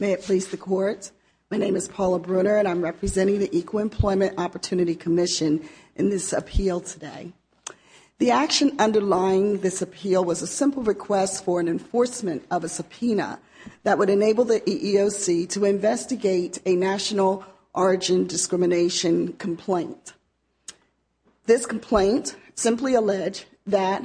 May it please the Court, my name is Paula Brunner and I'm representing the Equal Employment Opportunity Commission in this appeal today. The action underlying this appeal was a simple request for an enforcement of a subpoena that would enable the EEOC to investigate a national origin discrimination complaint. This complaint simply alleged that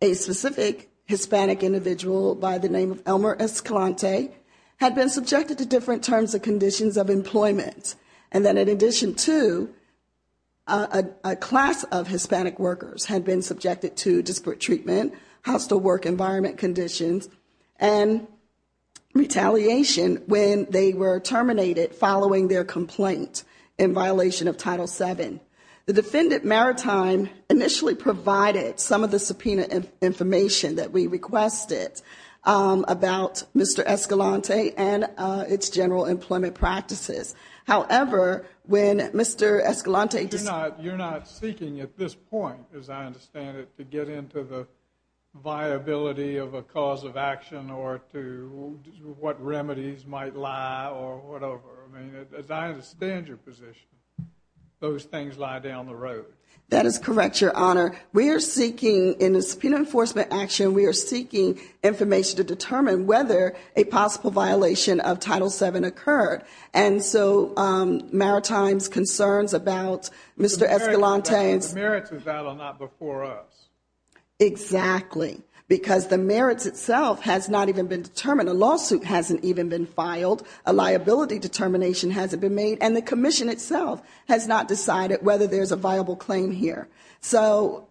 a specific Hispanic individual by the name of Elmer Escalante had been subjected to different terms and conditions of employment, and that in addition to a class of Hispanic workers had been subjected to disparate treatment, hostile work environment conditions, and retaliation when they were terminated following their complaint in violation of Title VII. The defendant, Maritime, initially provided some of the subpoena information that we requested about Mr. Escalante and its general employment practices. However, when Mr. Escalante... You're not seeking at this point, as I understand it, to get into the viability of a cause of action or to what remedies might lie or whatever. I mean, as I understand your position, those things lie down the road. That is correct, Your Honor. We are seeking, in this subpoena enforcement action, we are seeking information to determine whether a possible violation of Title VII occurred. And so Maritime's concerns about Mr. Escalante's... The merits of that are not before us. Exactly. Because the merits itself has not even been determined. A lawsuit hasn't even been filed. A liability determination hasn't been made. And the commission itself has not decided whether there's a viable claim here. So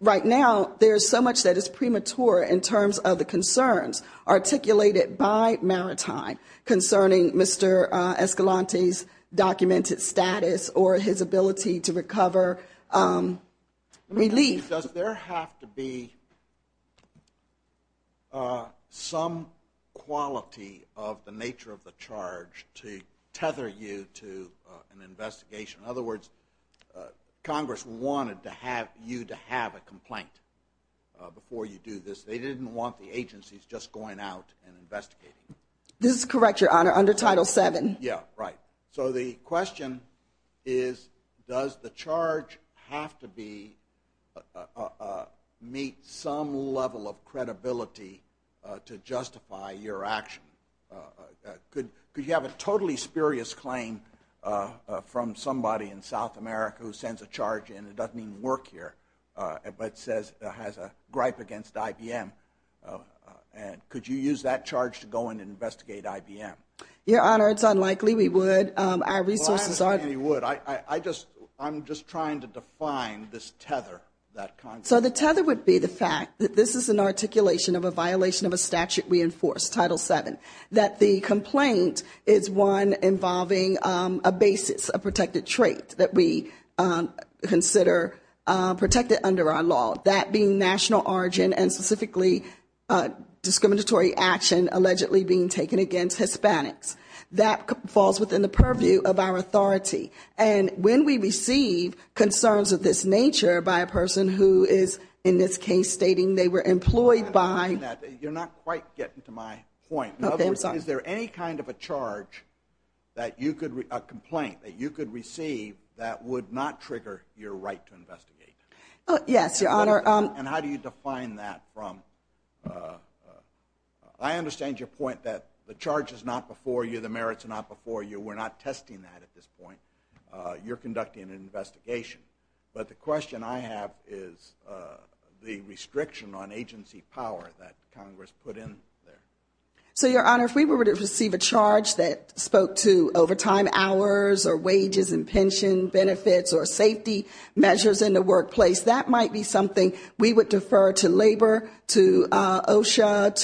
right now, there's so much that is premature in terms of the concerns articulated by Maritime concerning Mr. Escalante's documented status or his ability to recover relief. Does there have to be some quality of the nature of the charge to tether you to an investigation? In other words, Congress wanted you to have a complaint before you do this. They didn't want the agencies just going out and investigating. This is correct, Your Honor, under Title VII. Yeah, right. So the question is, does the charge have to meet some level of credibility to justify your action? Could you have a totally spurious claim from somebody in South America who sends a charge and it doesn't even work here, but has a gripe against IBM? Could you use that charge to go in and investigate IBM? Your Honor, it's unlikely we would. Our resources are... Well, I understand you would. I'm just trying to define this tether that Congress... That the complaint is one involving a basis, a protected trait that we consider protected under our law. That being national origin and specifically discriminatory action allegedly being taken against Hispanics. That falls within the purview of our authority. And when we receive concerns of this nature by a person who is, in this case, stating they were employed by... You're not quite getting to my point. In other words, is there any kind of a charge that you could... A complaint that you could receive that would not trigger your right to investigate? Yes, Your Honor. And how do you define that from... I understand your point that the charge is not before you, the merits are not before you. We're not testing that at this point. You're conducting an investigation. But the question I have is the restriction on agency power that Congress put in there. So, Your Honor, if we were to receive a charge that spoke to overtime hours or wages and pension benefits or safety measures in the workplace, that might be something we would defer to labor, to OSHA,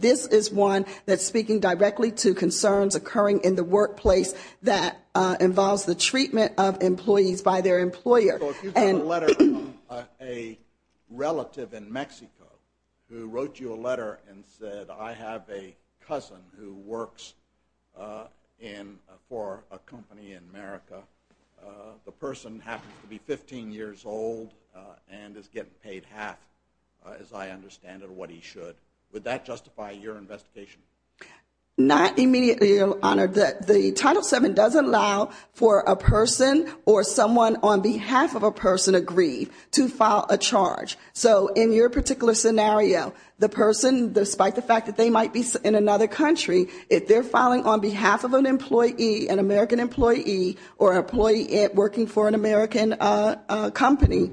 This is one that's speaking directly to concerns occurring in the workplace that involves the treatment of employees by their employer. So if you got a letter from a relative in Mexico who wrote you a letter and said, I have a cousin who works for a company in America. The person happens to be 15 years old and is getting paid half, as I understand it, of what he should. Would that justify your investigation? Not immediately, Your Honor. The Title VII doesn't allow for a person or someone on behalf of a person aggrieved to file a charge. So in your particular scenario, the person, despite the fact that they might be in another country, if they're filing on behalf of an employee, an American employee or an employee working for an American company,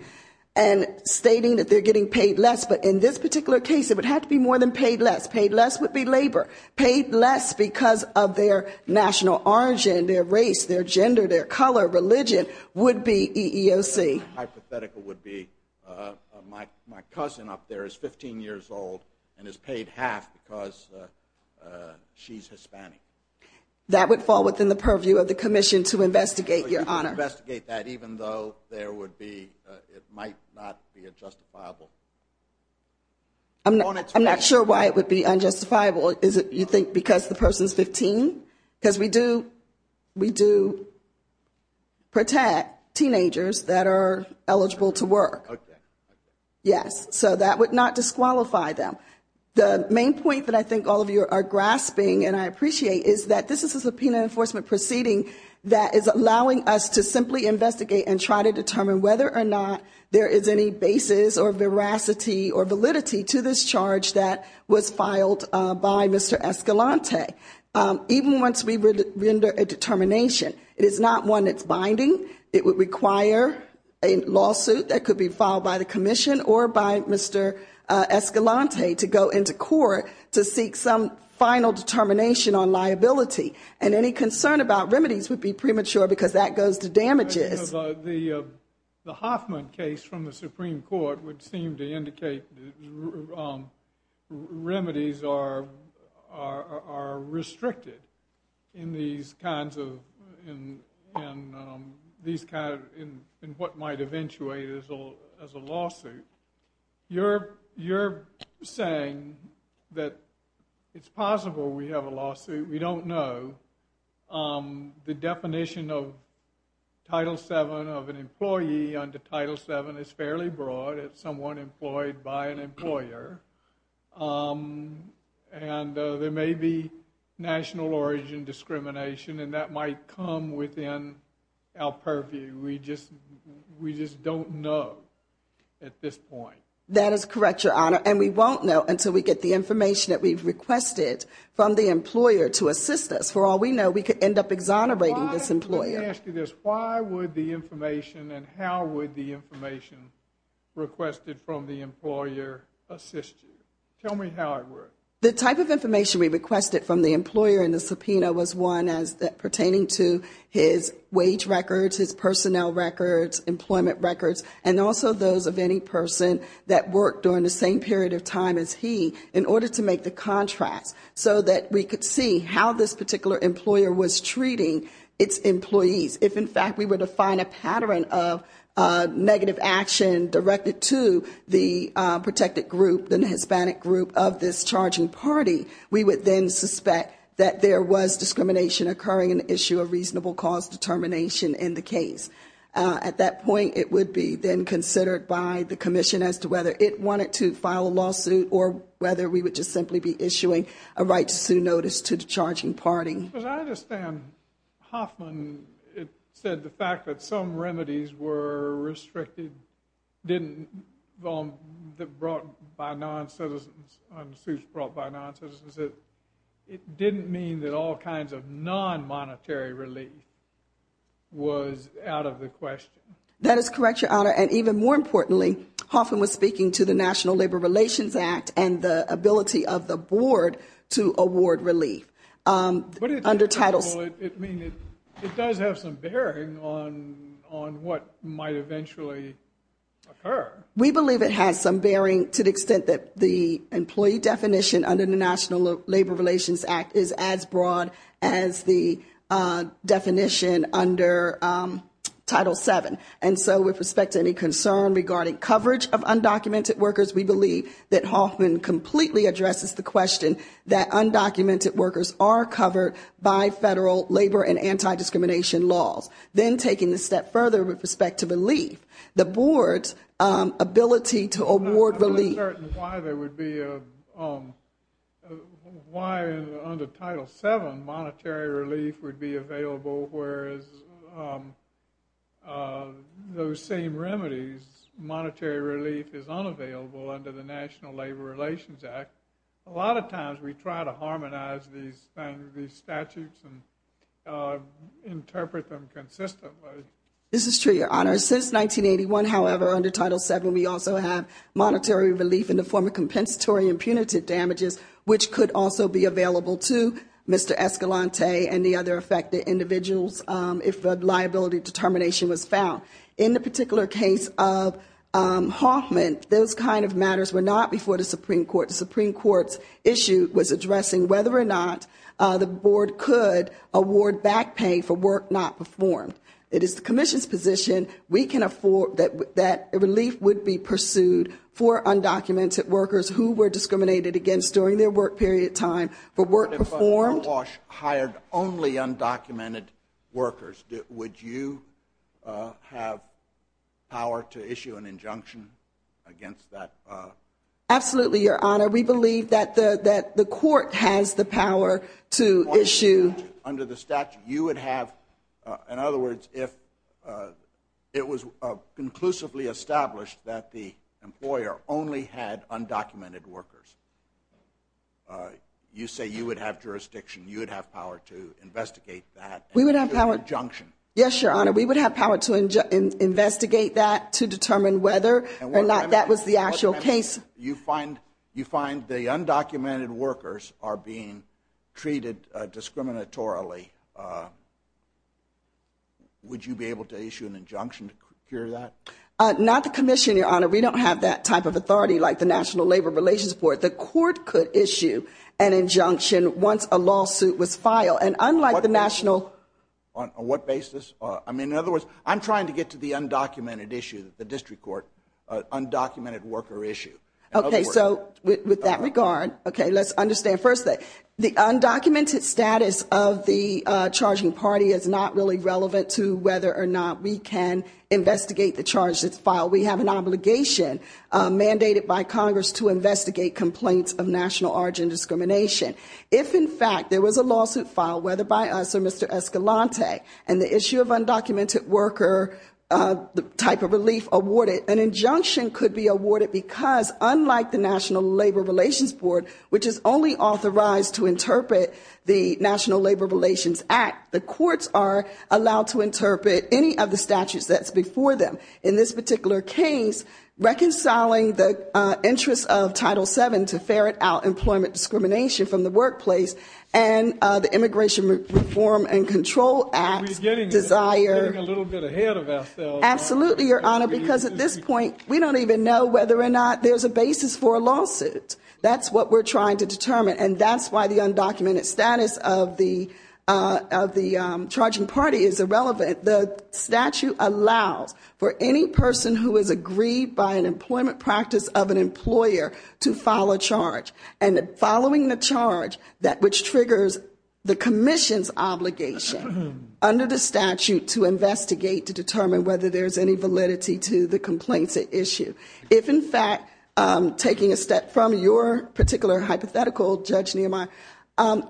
and stating that they're getting paid less. But in this particular case, it would have to be more than paid less. Paid less would be labor. Paid less because of their national origin, their race, their gender, their color, religion, would be EEOC. My hypothetical would be my cousin up there is 15 years old and is paid half because she's Hispanic. That would fall within the purview of the commission to investigate, Your Honor. To investigate that even though there would be, it might not be justifiable? I'm not sure why it would be unjustifiable. Is it, you think, because the person's 15? Because we do protect teenagers that are eligible to work. Okay. Yes. So that would not disqualify them. The main point that I think all of you are grasping and I appreciate is that this is a subpoena enforcement proceeding that is allowing us to simply investigate and try to determine whether or not there is any basis or veracity or validity to this charge that was filed by Mr. Escalante. Even once we render a determination, it is not one that's binding. It would require a lawsuit that could be filed by the commission or by Mr. Escalante to go into court to seek some final determination on liability. And any concern about remedies would be premature because that goes to damages. The Hoffman case from the Supreme Court would seem to indicate remedies are restricted in these kinds of, in what might eventuate as a lawsuit. You're saying that it's possible we have a lawsuit. We don't know. The definition of Title VII of an employee under Title VII is fairly broad. It's someone employed by an employer. And there may be national origin discrimination and that might come within our purview. We just don't know at this point. That is correct, Your Honor. And we won't know until we get the information that we've requested from the employer to assist us. For all we know, we could end up exonerating this employer. Let me ask you this. Why would the information and how would the information requested from the employer assist you? Tell me how it works. The type of information we requested from the employer in the subpoena was one pertaining to his wage records, his personnel records, employment records, and also those of any person that worked during the same period of time as he in order to make the contracts so that we could see how this particular employer was treating its employees. If, in fact, we were to find a pattern of negative action directed to the protected group, the Hispanic group of this charging party, we would then suspect that there was discrimination occurring in the issue of reasonable cause determination in the case. At that point, it would be then considered by the commission as to whether it wanted to file a lawsuit or whether we would just simply be issuing a right to sue notice to the charging party. Because I understand Hoffman said the fact that some remedies were restricted, didn't, brought by non-citizens, lawsuits brought by non-citizens, it didn't mean that all kinds of non-monetary relief was out of the question. That is correct, Your Honor. And even more importantly, Hoffman was speaking to the National Labor Relations Act and the ability of the board to award relief. But it does have some bearing on what might eventually occur. We believe it has some bearing to the extent that the employee definition under the National Labor Relations Act is as broad as the definition under Title VII. And so with respect to any concern regarding coverage of undocumented workers, we believe that Hoffman completely addresses the question that undocumented workers are covered by federal labor and anti-discrimination laws. Then taking the step further with respect to relief, the board's ability to award relief. I'm not really certain why there would be a, why under Title VII, monetary relief would be available, whereas those same remedies, monetary relief is unavailable under the National Labor Relations Act. A lot of times we try to harmonize these things, these statutes and interpret them consistently. This is true, Your Honor. Since 1981, however, under Title VII, we also have monetary relief in the form of compensatory and punitive damages, which could also be available to Mr. Escalante and the other affected individuals if a liability determination was found. In the particular case of Hoffman, those kind of matters were not before the Supreme Court. The Supreme Court's issue was addressing whether or not the board could award back pay for work not performed. It is the commission's position we can afford, that relief would be pursued for undocumented workers who were discriminated against during their work period time for work performed. But if Oash hired only undocumented workers, would you have power to issue an injunction against that? Absolutely, Your Honor. We believe that the court has the power to issue. Under the statute, you would have, in other words, if it was conclusively established that the employer only had undocumented workers. You say you would have jurisdiction, you would have power to investigate that and issue an injunction. Yes, Your Honor. We would have power to investigate that to determine whether or not that was the actual case. You find the undocumented workers are being treated discriminatorily. Would you be able to issue an injunction to cure that? Not the commission, Your Honor. We don't have that type of authority like the National Labor Relations Board. The court could issue an injunction once a lawsuit was filed. And unlike the national… On what basis? I mean, in other words, I'm trying to get to the undocumented issue, the district court, undocumented worker issue. Okay, so with that regard, okay, let's understand. First, the undocumented status of the charging party is not really relevant to whether or not we can investigate the charges filed. We have an obligation mandated by Congress to investigate complaints of national origin discrimination. If, in fact, there was a lawsuit filed, whether by us or Mr. Escalante, and the issue of undocumented worker type of relief awarded, an injunction could be awarded because, unlike the National Labor Relations Board, which is only authorized to interpret the National Labor Relations Act, the courts are allowed to interpret any of the statutes that's before them. In this particular case, reconciling the interest of Title VII to ferret out employment discrimination from the workplace and the Immigration Reform and Control Act desire… Are we getting a little bit ahead of ourselves? Absolutely, Your Honor, because at this point, we don't even know whether or not there's a basis for a lawsuit. That's what we're trying to determine, and that's why the undocumented status of the charging party is irrelevant. The statute allows for any person who is agreed by an employment practice of an employer to file a charge, and following the charge, which triggers the commission's obligation under the statute to investigate to determine whether there's any validity to the complaints at issue. If, in fact, taking a step from your particular hypothetical, Judge Nehemiah,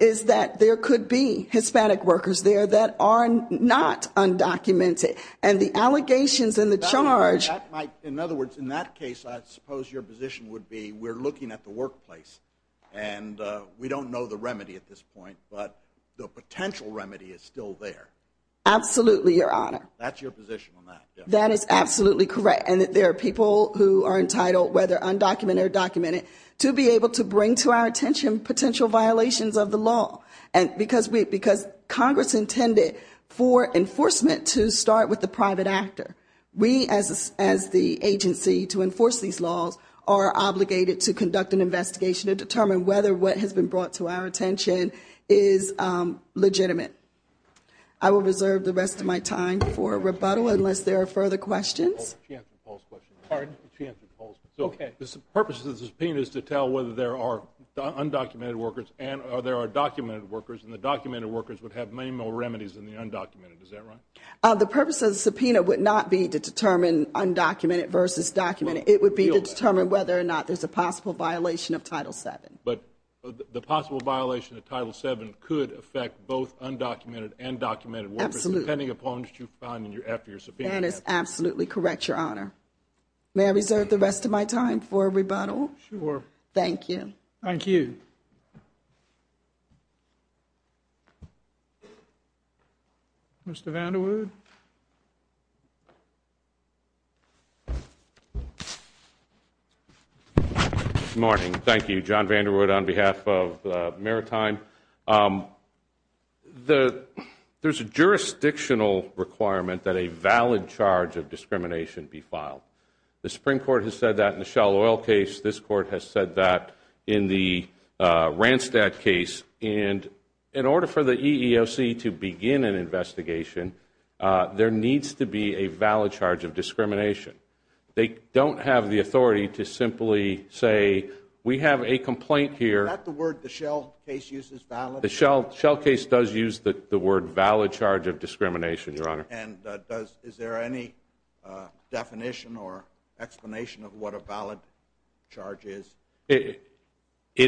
is that there could be Hispanic workers there that are not undocumented, and the allegations in the charge… In other words, in that case, I suppose your position would be we're looking at the workplace, and we don't know the remedy at this point, but the potential remedy is still there. Absolutely, Your Honor. That's your position on that. That is absolutely correct, and that there are people who are entitled, whether undocumented or documented, to be able to bring to our attention potential violations of the law, because Congress intended for enforcement to start with the private actor. We, as the agency to enforce these laws, are obligated to conduct an investigation to determine whether what has been brought to our attention is legitimate. I will reserve the rest of my time for rebuttal unless there are further questions. She answered Paul's question. Pardon? She answered Paul's question. Okay. The purpose of the subpoena is to tell whether there are undocumented workers and there are documented workers, and the documented workers would have many more remedies than the undocumented. Is that right? The purpose of the subpoena would not be to determine undocumented versus documented. It would be to determine whether or not there's a possible violation of Title VII. But the possible violation of Title VII could affect both undocumented and documented workers… Absolutely. …depending upon what you find after your subpoena. That is absolutely correct, Your Honor. May I reserve the rest of my time for rebuttal? Sure. Thank you. Thank you. Mr. Vanderwood? Good morning. Thank you. John Vanderwood on behalf of Maritime. There's a jurisdictional requirement that a valid charge of discrimination be filed. The Supreme Court has said that in the Shell Oil case. This Court has said that in the Randstad case. And in order for the EEOC to begin an investigation, there needs to be a valid charge of discrimination. They don't have the authority to simply say, we have a complaint here… The Shell case does use the word valid charge of discrimination, Your Honor. And is there any definition or explanation of what a valid charge is? It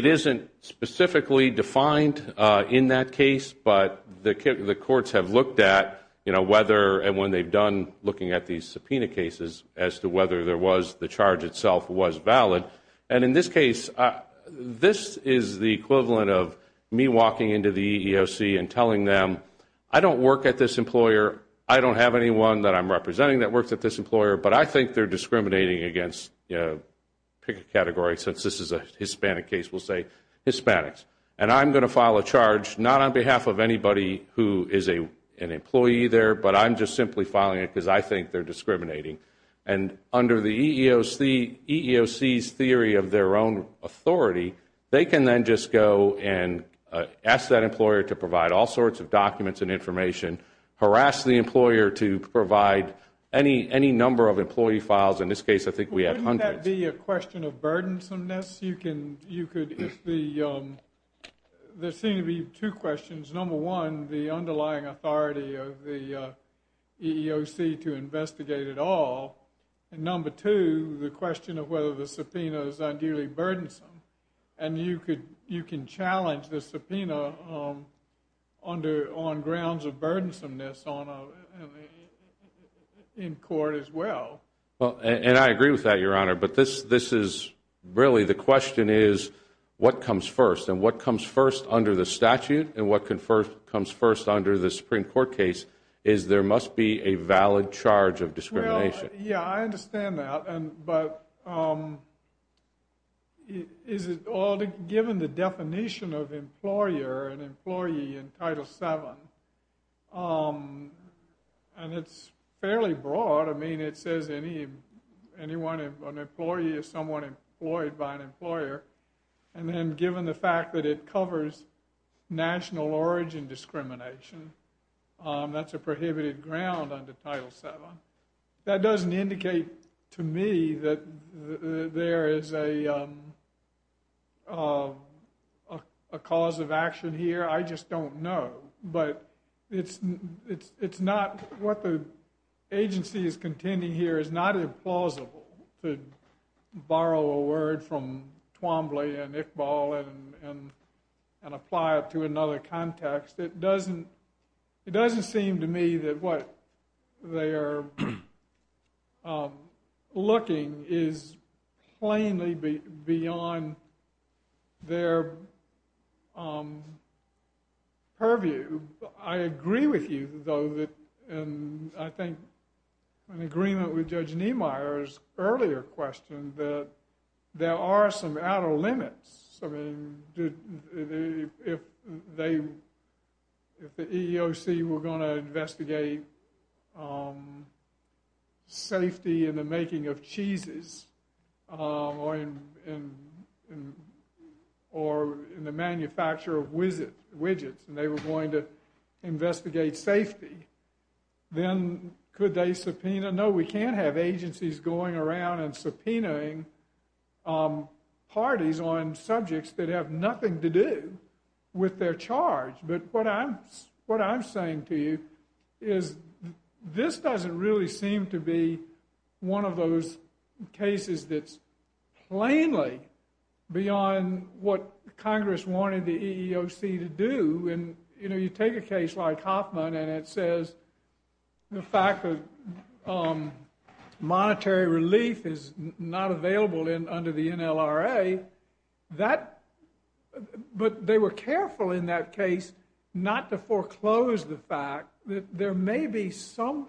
isn't specifically defined in that case, but the courts have looked at whether, and when they've done looking at these subpoena cases, as to whether the charge itself was valid. And in this case, this is the equivalent of me walking into the EEOC and telling them, I don't work at this employer, I don't have anyone that I'm representing that works at this employer, but I think they're discriminating against, pick a category since this is a Hispanic case, we'll say Hispanics. And I'm going to file a charge, not on behalf of anybody who is an employee there, but I'm just simply filing it because I think they're discriminating. And under the EEOC's theory of their own authority, they can then just go and ask that employer to provide all sorts of documents and information, harass the employer to provide any number of employee files. In this case, I think we had hundreds. Wouldn't that be a question of burdensomeness? There seem to be two questions. Number one, the underlying authority of the EEOC to investigate it all. And number two, the question of whether the subpoena is ideally burdensome. And you can challenge the subpoena on grounds of burdensomeness in court as well. And I agree with that, Your Honor. But this is really the question is, what comes first? And what comes first under the statute and what comes first under the Supreme Court case is there must be a valid charge of discrimination. Well, yeah, I understand that. But given the definition of employer and employee in Title VII, and it's fairly broad. I mean, it says an employee is someone employed by an employer. And then given the fact that it covers national origin discrimination, that's a prohibited ground under Title VII. That doesn't indicate to me that there is a cause of action here. I just don't know. But what the agency is contending here is not implausible, to borrow a word from Twombly and Iqbal and apply it to another context. It doesn't seem to me that what they are looking is plainly beyond their purview. I agree with you, though, and I think in agreement with Judge Niemeyer's earlier question that there are some outer limits. I mean, if the EEOC were going to investigate safety in the making of cheeses or in the manufacture of widgets and they were going to investigate safety, then could they subpoena? No, we can't have agencies going around and subpoenaing parties on subjects that have nothing to do with their charge. But what I'm saying to you is this doesn't really seem to be one of those cases that's plainly beyond what Congress wanted the EEOC to do. You take a case like Hoffman and it says the fact that monetary relief is not available under the NLRA, but they were careful in that case not to foreclose the fact that there may be some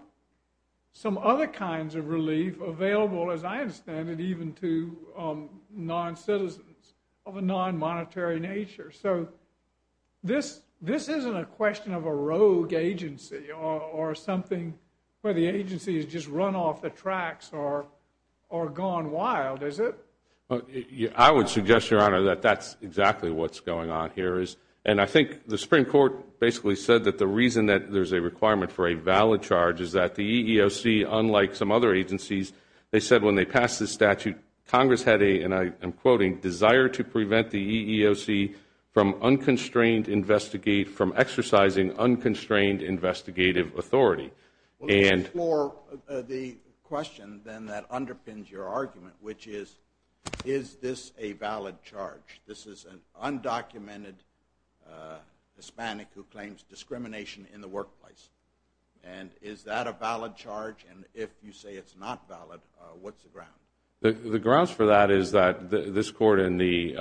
other kinds of relief available, as I understand it, even to non-citizens of a non-monetary nature. So this isn't a question of a rogue agency or something where the agency has just run off the tracks or gone wild, is it? I would suggest, Your Honor, that that's exactly what's going on here. And I think the Supreme Court basically said that the reason that there's a requirement for a valid charge is that the EEOC, unlike some other agencies, they said when they passed this statute, Congress had a, and I am quoting, desire to prevent the EEOC from exercising unconstrained investigative authority. Well, this is more the question then that underpins your argument, which is, is this a valid charge? This is an undocumented Hispanic who claims discrimination in the workplace. And is that a valid charge? And if you say it's not valid, what's the ground? The grounds for that is that this Court in the,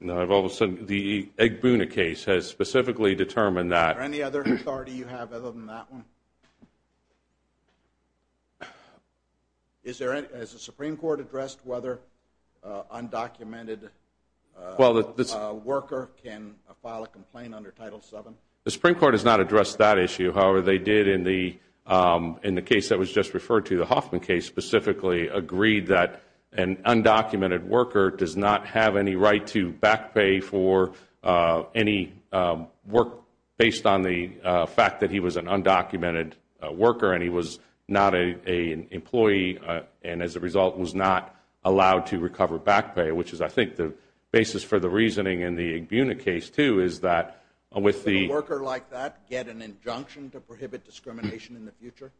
now all of a sudden the Egbuna case has specifically determined that. Is there any other authority you have other than that one? Has the Supreme Court addressed whether undocumented worker can file a complaint under Title VII? The Supreme Court has not addressed that issue. However, they did in the case that was just referred to, the Hoffman case, specifically agreed that an undocumented worker does not have any right to back pay for any work based on the fact that he was an undocumented worker and he was not an employee and as a result was not allowed to recover back pay, which is I think the basis for the reasoning in the Egbuna case too is that with the. Can a worker like that get an injunction to prohibit discrimination in the future?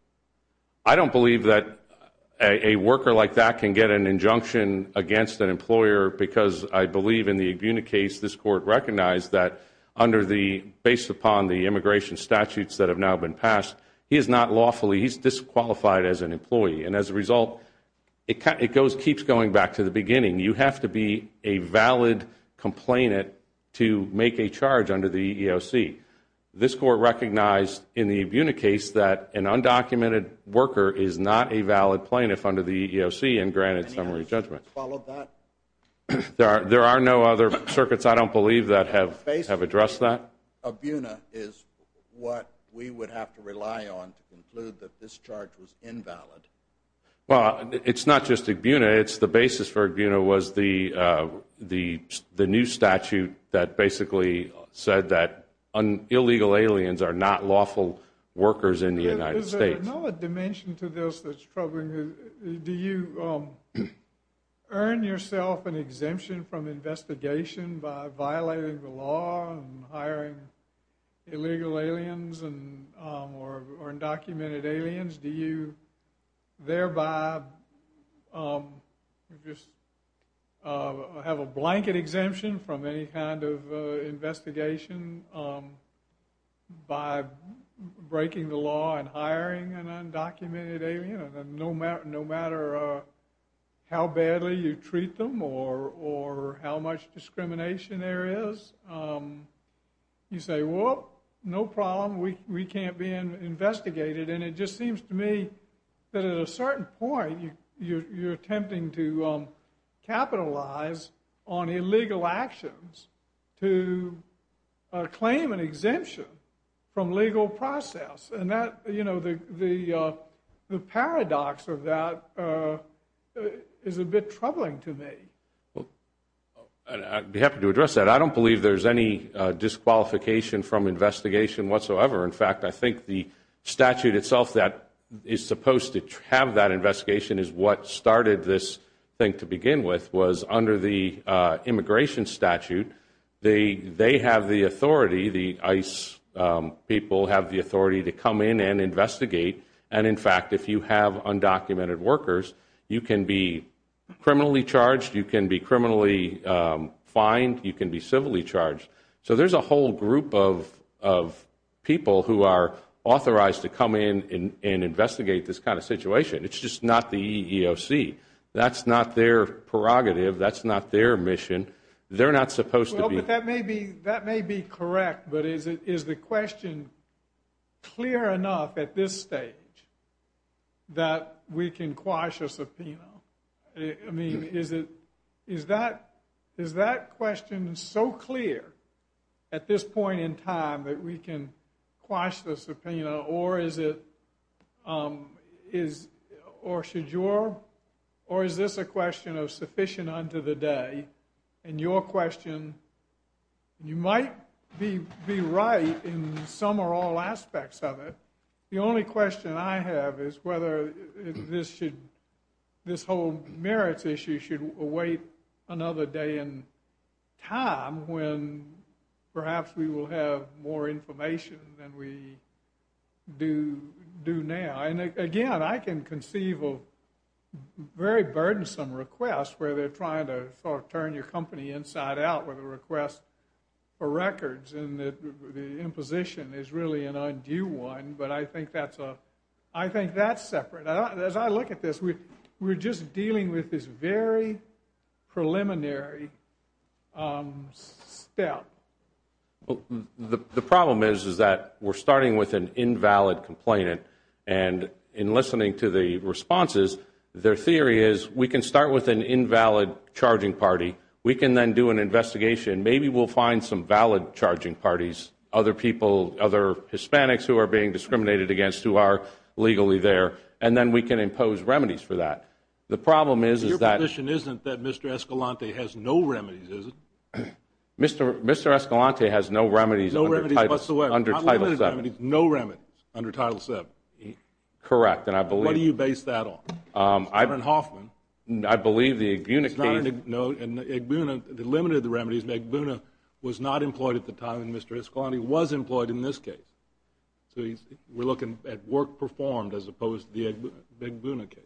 I don't believe that a worker like that can get an injunction against an employer because I believe in the Egbuna case this Court recognized that under the, based upon the immigration statutes that have now been passed, he is not lawfully, he's disqualified as an employee. And as a result, it keeps going back to the beginning. You have to be a valid complainant to make a charge under the EEOC. This Court recognized in the Egbuna case that an undocumented worker is not a valid plaintiff under the EEOC and granted summary judgment. There are no other circuits, I don't believe, that have addressed that. Egbuna is what we would have to rely on to conclude that this charge was invalid. Well, it's not just Egbuna, it's the basis for Egbuna was the new statute that basically said that illegal aliens are not lawful workers in the United States. Is there another dimension to this that's troubling? Do you earn yourself an exemption from investigation by violating the law and hiring illegal aliens or undocumented aliens? Do you thereby just have a blanket exemption from any kind of investigation by breaking the law and hiring an undocumented alien? No matter how badly you treat them or how much discrimination there is, you say, well, no problem, we can't be investigated. And it just seems to me that at a certain point you're attempting to capitalize on illegal actions to claim an exemption from legal process. And the paradox of that is a bit troubling to me. I'd be happy to address that. I don't believe there's any disqualification from investigation whatsoever. In fact, I think the statute itself that is supposed to have that investigation is what started this thing to begin with, was under the immigration statute, they have the authority, the ICE people have the authority to come in and investigate. And in fact, if you have undocumented workers, you can be criminally charged, you can be criminally fined, you can be civilly charged. So there's a whole group of people who are authorized to come in and investigate this kind of situation. It's just not the EEOC. That's not their prerogative. That's not their mission. They're not supposed to be. Well, that may be correct, but is the question clear enough at this stage that we can quash a subpoena? I mean, is that question so clear at this point in time that we can quash the subpoena? Or is this a question of sufficient unto the day? And your question, you might be right in some or all aspects of it. The only question I have is whether this whole merits issue should await another day in time when perhaps we will have more information than we do now. And again, I can conceive of very burdensome requests where they're trying to sort of turn your company inside out with a request for records and the imposition is really an undue one. But I think that's separate. As I look at this, we're just dealing with this very preliminary step. The problem is that we're starting with an invalid complainant. And in listening to the responses, their theory is we can start with an invalid charging party. We can then do an investigation. Maybe we'll find some valid charging parties, other people, banks who are being discriminated against who are legally there, and then we can impose remedies for that. The problem is that Mr. Escalante has no remedies under Title VII. What do you base that on? I believe the Igbuna case. No, Igbuna limited the remedies. Igbuna was not employed at the time, and Mr. Escalante was employed in this case. So we're looking at work performed as opposed to the Igbuna case.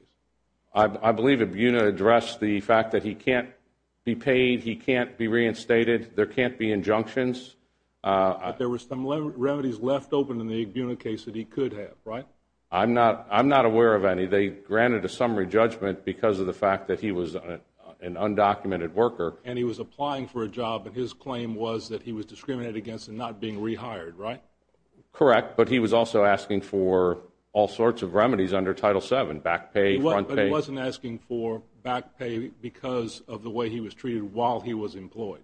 I believe Igbuna addressed the fact that he can't be paid, he can't be reinstated, there can't be injunctions. But there were some remedies left open in the Igbuna case that he could have, right? I'm not aware of any. They granted a summary judgment because of the fact that he was an undocumented worker. And he was applying for a job, and his claim was that he was discriminated against and not being rehired, right? Correct, but he was also asking for all sorts of remedies under Title VII, back pay, front pay. But he wasn't asking for back pay because of the way he was treated while he was employed.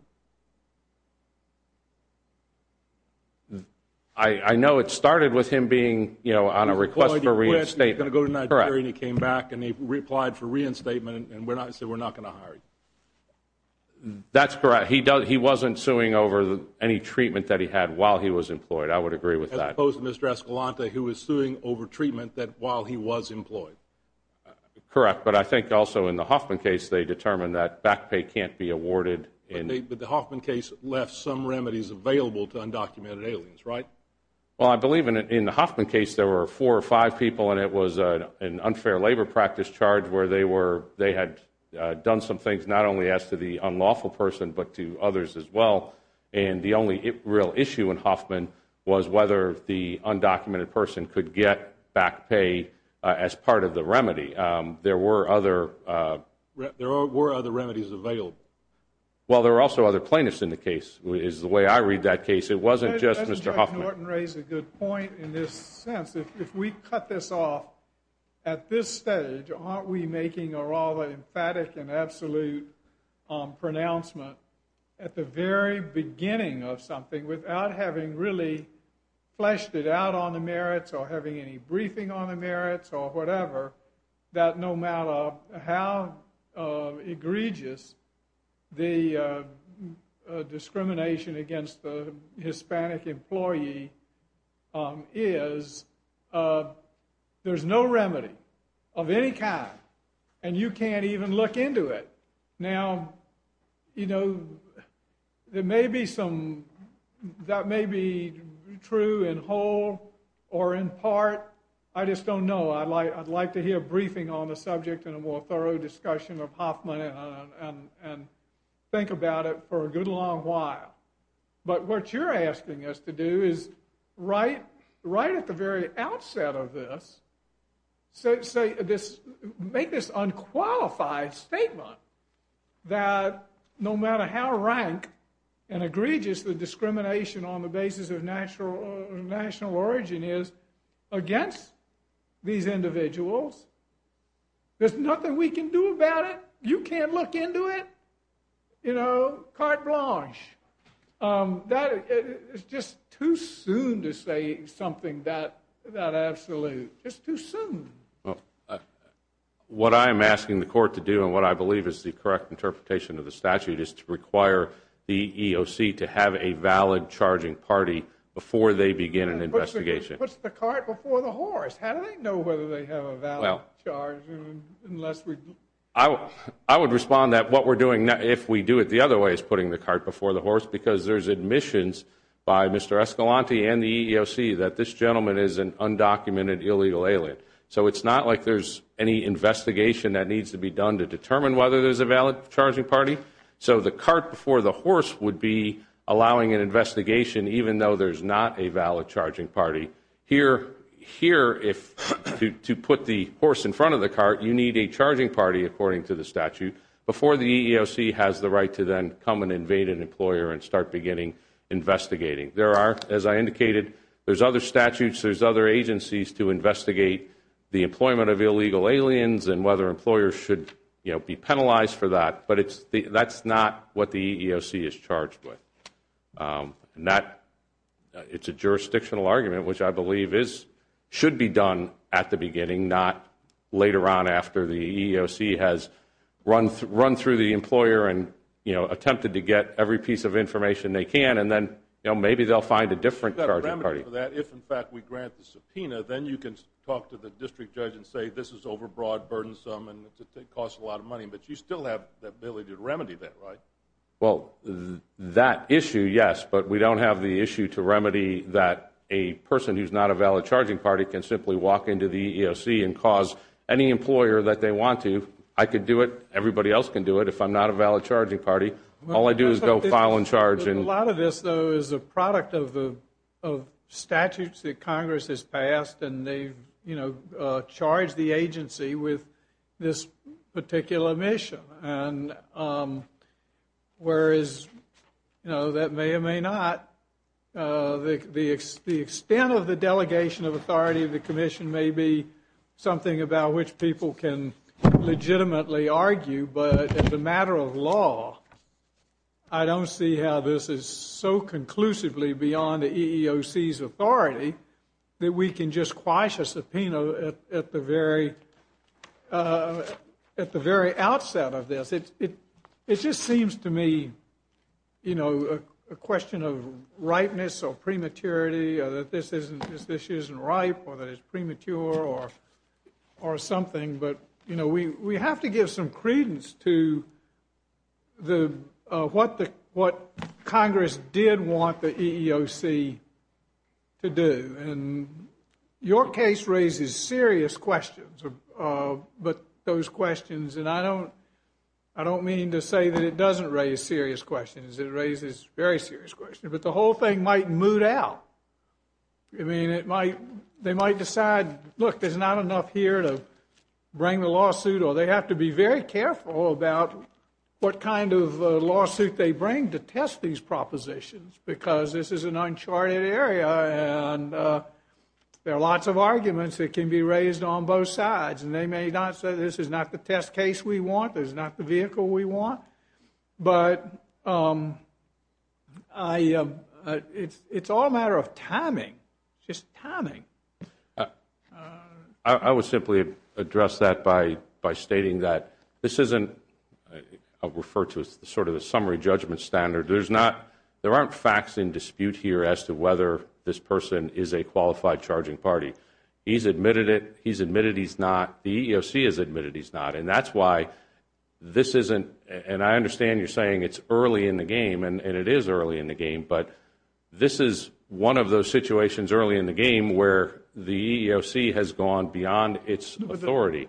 I know it started with him being on a request for reinstatement. He was going to go to Nigeria and he came back and he replied for reinstatement and said we're not going to hire you. That's correct. He wasn't suing over any treatment that he had while he was employed. I would agree with that. As opposed to Mr. Escalante who was suing over treatment while he was employed. Correct, but I think also in the Hoffman case they determined that back pay can't be awarded. But the Hoffman case left some remedies available to undocumented aliens, right? Well, I believe in the Hoffman case there were four or five people and it was an unfair labor practice charge where they had done some things not only as to the unlawful person but to others as well. And the only real issue in Hoffman was whether the undocumented person could get back pay as part of the remedy. There were other remedies available. Well, there were also other plaintiffs in the case is the way I read that case. It wasn't just Mr. Hoffman. I think Judge Norton raised a good point in this sense. If we cut this off at this stage, aren't we making a rather emphatic and absolute pronouncement at the very beginning of something without having really fleshed it out on the merits or having any briefing on the merits or whatever, that no matter how egregious the discrimination against the Hispanic employee is, there's no remedy of any kind and you can't even look into it. Now, you know, that may be true in whole or in part. I just don't know. I'd like to hear a briefing on the subject in a more thorough discussion of Hoffman and think about it for a good long while. But what you're asking us to do is right at the very outset of this, make this unqualified statement that no matter how rank and egregious the discrimination on the basis of national origin is against these individuals, there's nothing we can do about it. You can't look into it. You know, carte blanche. It's just too soon to say something that absolute. It's too soon. What I'm asking the court to do and what I believe is the correct interpretation of the statute is to require the EEOC to have a valid charging party before they begin an investigation. But it puts the cart before the horse. How do they know whether they have a valid charge unless we? I would respond that what we're doing, if we do it the other way, is putting the cart before the horse because there's admissions by Mr. Escalante and the EEOC that this gentleman is an undocumented illegal alien. So it's not like there's any investigation that needs to be done to determine whether there's a valid charging party. So the cart before the horse would be allowing an investigation even though there's not a valid charging party. Here, to put the horse in front of the cart, you need a charging party, according to the statute, before the EEOC has the right to then come and invade an employer and start beginning investigating. There are, as I indicated, there's other statutes, there's other agencies to investigate the employment of illegal aliens and whether employers should be penalized for that. But that's not what the EEOC is charged with. It's a jurisdictional argument, which I believe should be done at the beginning, not later on after the EEOC has run through the employer and attempted to get every piece of information they can, and then maybe they'll find a different charging party. If, in fact, we grant the subpoena, then you can talk to the district judge and say this is overbroad, burdensome, and it costs a lot of money. But you still have the ability to remedy that, right? Well, that issue, yes. But we don't have the issue to remedy that a person who's not a valid charging party can simply walk into the EEOC and cause any employer that they want to. I could do it. Everybody else can do it if I'm not a valid charging party. All I do is go file and charge. A lot of this, though, is a product of statutes that Congress has passed, and they charge the agency with this particular mission. Whereas that may or may not, the extent of the delegation of authority of the commission may be something about which people can legitimately argue, but as a matter of law, I don't see how this is so conclusively beyond the EEOC's authority that we can just quash a subpoena at the very outset of this. It just seems to me, you know, a question of ripeness or prematurity or that this isn't ripe or that it's premature or something. But, you know, we have to give some credence to what Congress did want the EEOC to do. And your case raises serious questions, but those questions, and I don't mean to say that it doesn't raise serious questions. It raises very serious questions. But the whole thing might moot out. I mean, they might decide, look, there's not enough here to bring the lawsuit, or they have to be very careful about what kind of lawsuit they bring to test these propositions because this is an uncharted area and there are lots of arguments that can be raised on both sides. And they may not say this is not the test case we want, this is not the vehicle we want. But it's all a matter of timing, just timing. I would simply address that by stating that this isn't referred to as sort of the summary judgment standard. There aren't facts in dispute here as to whether this person is a qualified charging party. He's admitted it. He's admitted he's not. The EEOC has admitted he's not. And that's why this isn't, and I understand you're saying it's early in the game, and it is early in the game, but this is one of those situations early in the game where the EEOC has gone beyond its authority.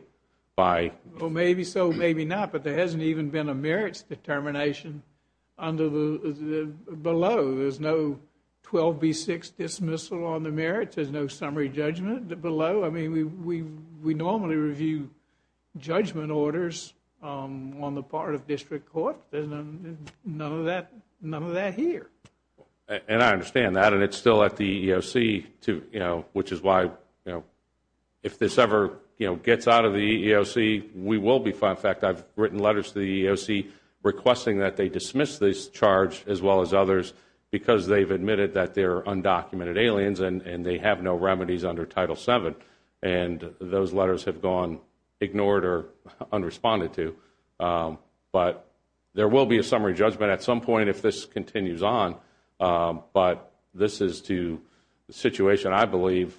Well, maybe so, maybe not. But there hasn't even been a merits determination below. There's no 12B6 dismissal on the merits. There's no summary judgment below. I mean, we normally review judgment orders on the part of district court. There's none of that here. And I understand that. And it's still at the EEOC, which is why if this ever gets out of the EEOC, we will be fined. In fact, I've written letters to the EEOC requesting that they dismiss this charge as well as others because they've admitted that they're undocumented aliens and they have no remedies under Title VII. And those letters have gone ignored or unresponded to. But there will be a summary judgment at some point if this continues on. But this is a situation I believe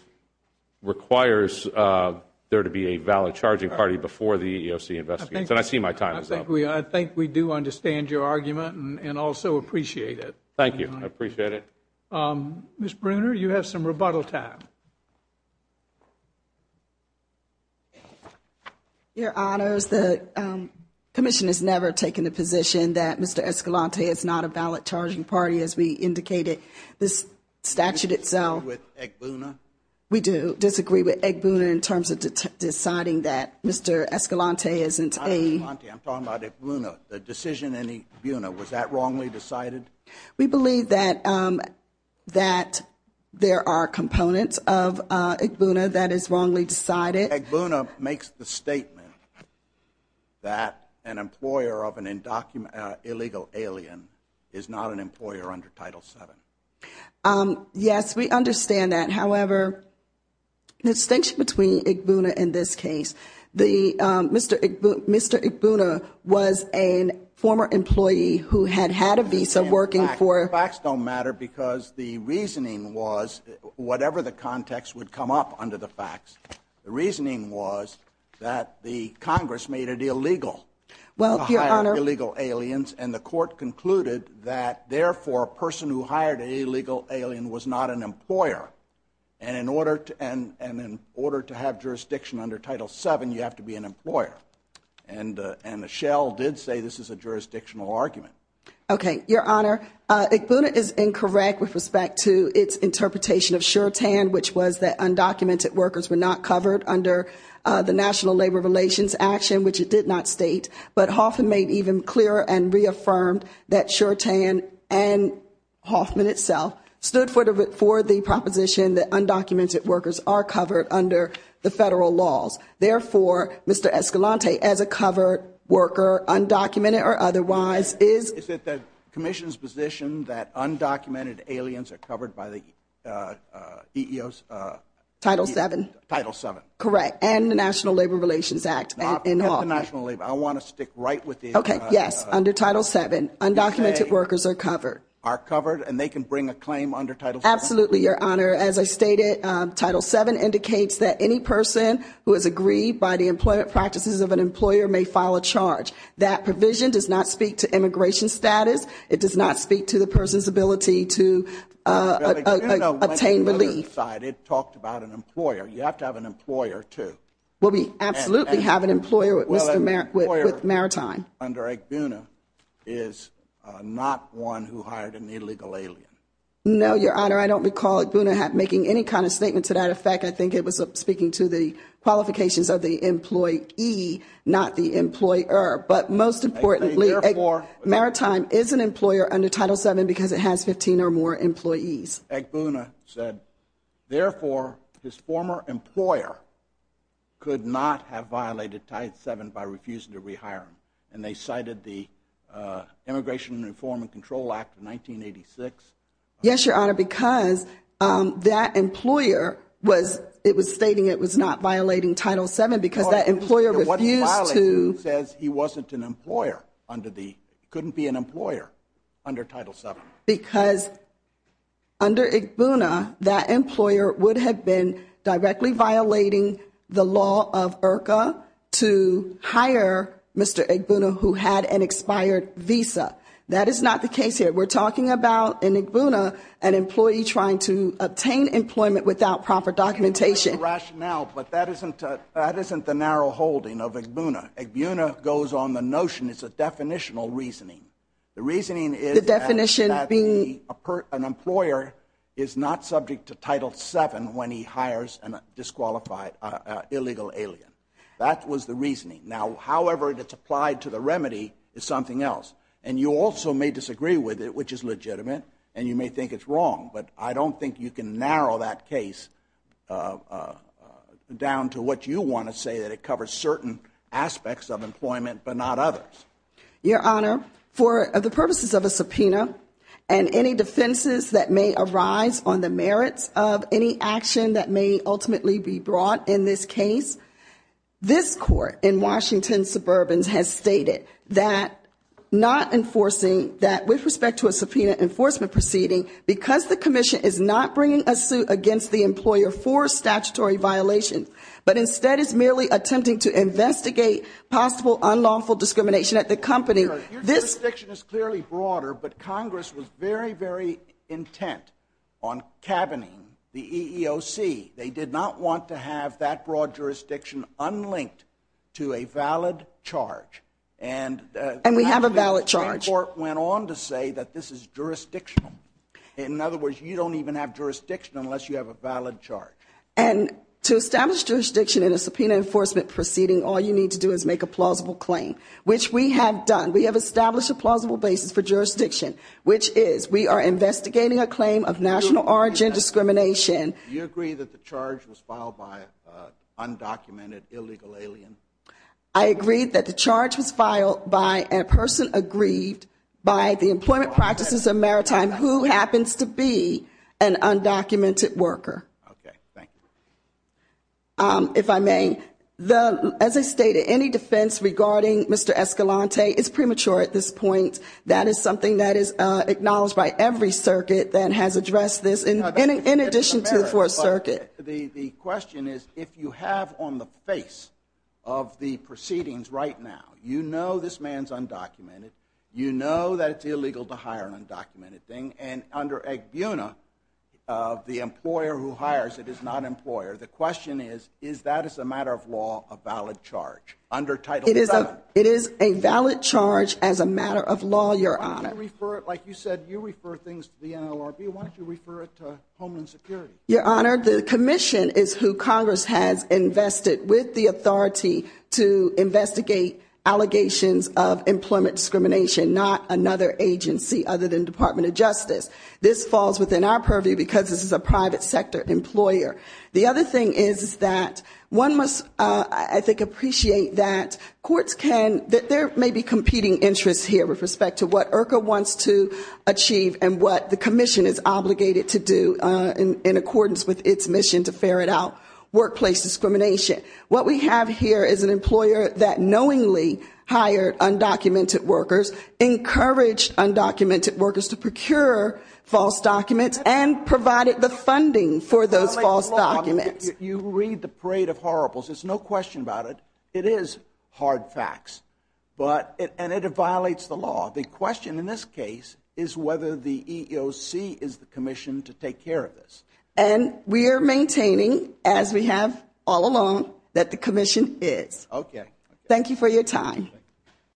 requires there to be a valid charging party before the EEOC investigates. And I see my time is up. I think we do understand your argument and also appreciate it. Thank you. I appreciate it. Ms. Bruner, you have some rebuttal time. Your Honors, the commission has never taken the position that Mr. Escalante is not a valid charging party, as we indicated this statute itself. Do you disagree with Agbuna? We do disagree with Agbuna in terms of deciding that Mr. Escalante isn't a I'm talking about Agbuna. The decision in Agbuna, was that wrongly decided? We believe that there are components of Agbuna that is wrongly decided. Agbuna makes the statement that an employer of an illegal alien is not an employer under Title VII. Yes, we understand that. However, the distinction between Agbuna and this case, Mr. Agbuna was a former employee who had had a visa working for The facts don't matter because the reasoning was, whatever the context would come up under the facts, the reasoning was that the Congress made it illegal to hire illegal aliens, and the court concluded that, therefore, a person who hired an illegal alien was not an employer. And in order to have jurisdiction under Title VII, you have to be an employer. And Michelle did say this is a jurisdictional argument. Okay, Your Honor, Agbuna is incorrect with respect to its interpretation of sure-tan, which was that undocumented workers were not covered under the National Labor Relations Action, which it did not state. But Hoffman made even clearer and reaffirmed that sure-tan, and Hoffman itself, stood for the proposition that undocumented workers are covered under the federal laws. Therefore, Mr. Escalante, as a covered worker, undocumented or otherwise, is. Is it the commission's position that undocumented aliens are covered by the EEOs? Title VII. Title VII. Correct, and the National Labor Relations Act. I want to stick right with these. Okay, yes, under Title VII, undocumented workers are covered. Are covered, and they can bring a claim under Title VII? Absolutely, Your Honor. As I stated, Title VII indicates that any person who is aggrieved by the employment practices of an employer may file a charge. That provision does not speak to immigration status. It does not speak to the person's ability to obtain relief. It talked about an employer. You have to have an employer, too. Well, we absolutely have an employer with Mr. Maritime. Well, an employer under Agbuna is not one who hired an illegal alien. No, Your Honor, I don't recall Agbuna making any kind of statement to that effect. I think it was speaking to the qualifications of the employee, not the employer. But most importantly, Maritime is an employer under Title VII because it has 15 or more employees. Agbuna said, therefore, his former employer could not have violated Title VII by refusing to rehire him. And they cited the Immigration Reform and Control Act of 1986. Yes, Your Honor, because that employer was stating it was not violating Title VII because that employer refused to – What he violated says he wasn't an employer under the – couldn't be an employer under Title VII. Because under Agbuna, that employer would have been directly violating the law of IRCA to hire Mr. Agbuna who had an expired visa. That is not the case here. We're talking about, in Agbuna, an employee trying to obtain employment without proper documentation. That's the rationale, but that isn't the narrow holding of Agbuna. Agbuna goes on the notion it's a definitional reasoning. The reasoning is – The definition being – An employer is not subject to Title VII when he hires a disqualified illegal alien. That was the reasoning. Now, however it's applied to the remedy is something else. And you also may disagree with it, which is legitimate, and you may think it's wrong. But I don't think you can narrow that case down to what you want to say, that it covers certain aspects of employment but not others. Your Honor, for the purposes of a subpoena and any defenses that may arise on the merits of any action that may ultimately be brought in this case, this court in Washington Suburbans has stated that not enforcing – that with respect to a subpoena enforcement proceeding, because the commission is not bringing a suit against the employer for statutory violations, but instead is merely attempting to investigate possible unlawful discrimination at the company. Your jurisdiction is clearly broader, but Congress was very, very intent on cabining the EEOC. They did not want to have that broad jurisdiction unlinked to a valid charge. And we have a valid charge. And the Supreme Court went on to say that this is jurisdictional. In other words, you don't even have jurisdiction unless you have a valid charge. And to establish jurisdiction in a subpoena enforcement proceeding, all you need to do is make a plausible claim, which we have done. We have established a plausible basis for jurisdiction, which is we are investigating a claim of national origin discrimination. Do you agree that the charge was filed by an undocumented, illegal alien? I agree that the charge was filed by a person aggrieved by the employment practices of Maritime who happens to be an undocumented worker. Okay, thank you. If I may, as I stated, any defense regarding Mr. Escalante is premature at this point. That is something that is acknowledged by every circuit that has addressed this, in addition to the Fourth Circuit. The question is, if you have on the face of the proceedings right now, you know this man is undocumented, you know that it's illegal to hire an undocumented thing, and under Agbuna, the employer who hires it is not an employer. The question is, is that as a matter of law a valid charge under Title VII? It is a valid charge as a matter of law, Your Honor. Why don't you refer it, like you said, you refer things to the NLRB. Why don't you refer it to Homeland Security? Your Honor, the commission is who Congress has invested with the authority to investigate allegations of employment discrimination, not another agency other than Department of Justice. This falls within our purview because this is a private sector employer. The other thing is that one must, I think, appreciate that courts can, that there may be competing interests here with respect to what IRCA wants to achieve and what the commission is obligated to do in accordance with its mission to ferret out workplace discrimination. What we have here is an employer that knowingly hired undocumented workers, encouraged undocumented workers to procure false documents, and provided the funding for those false documents. You read the parade of horribles. There's no question about it. It is hard facts, and it violates the law. The question in this case is whether the EEOC is the commission to take care of this. And we are maintaining, as we have all along, that the commission is. Okay. Thank you for your time.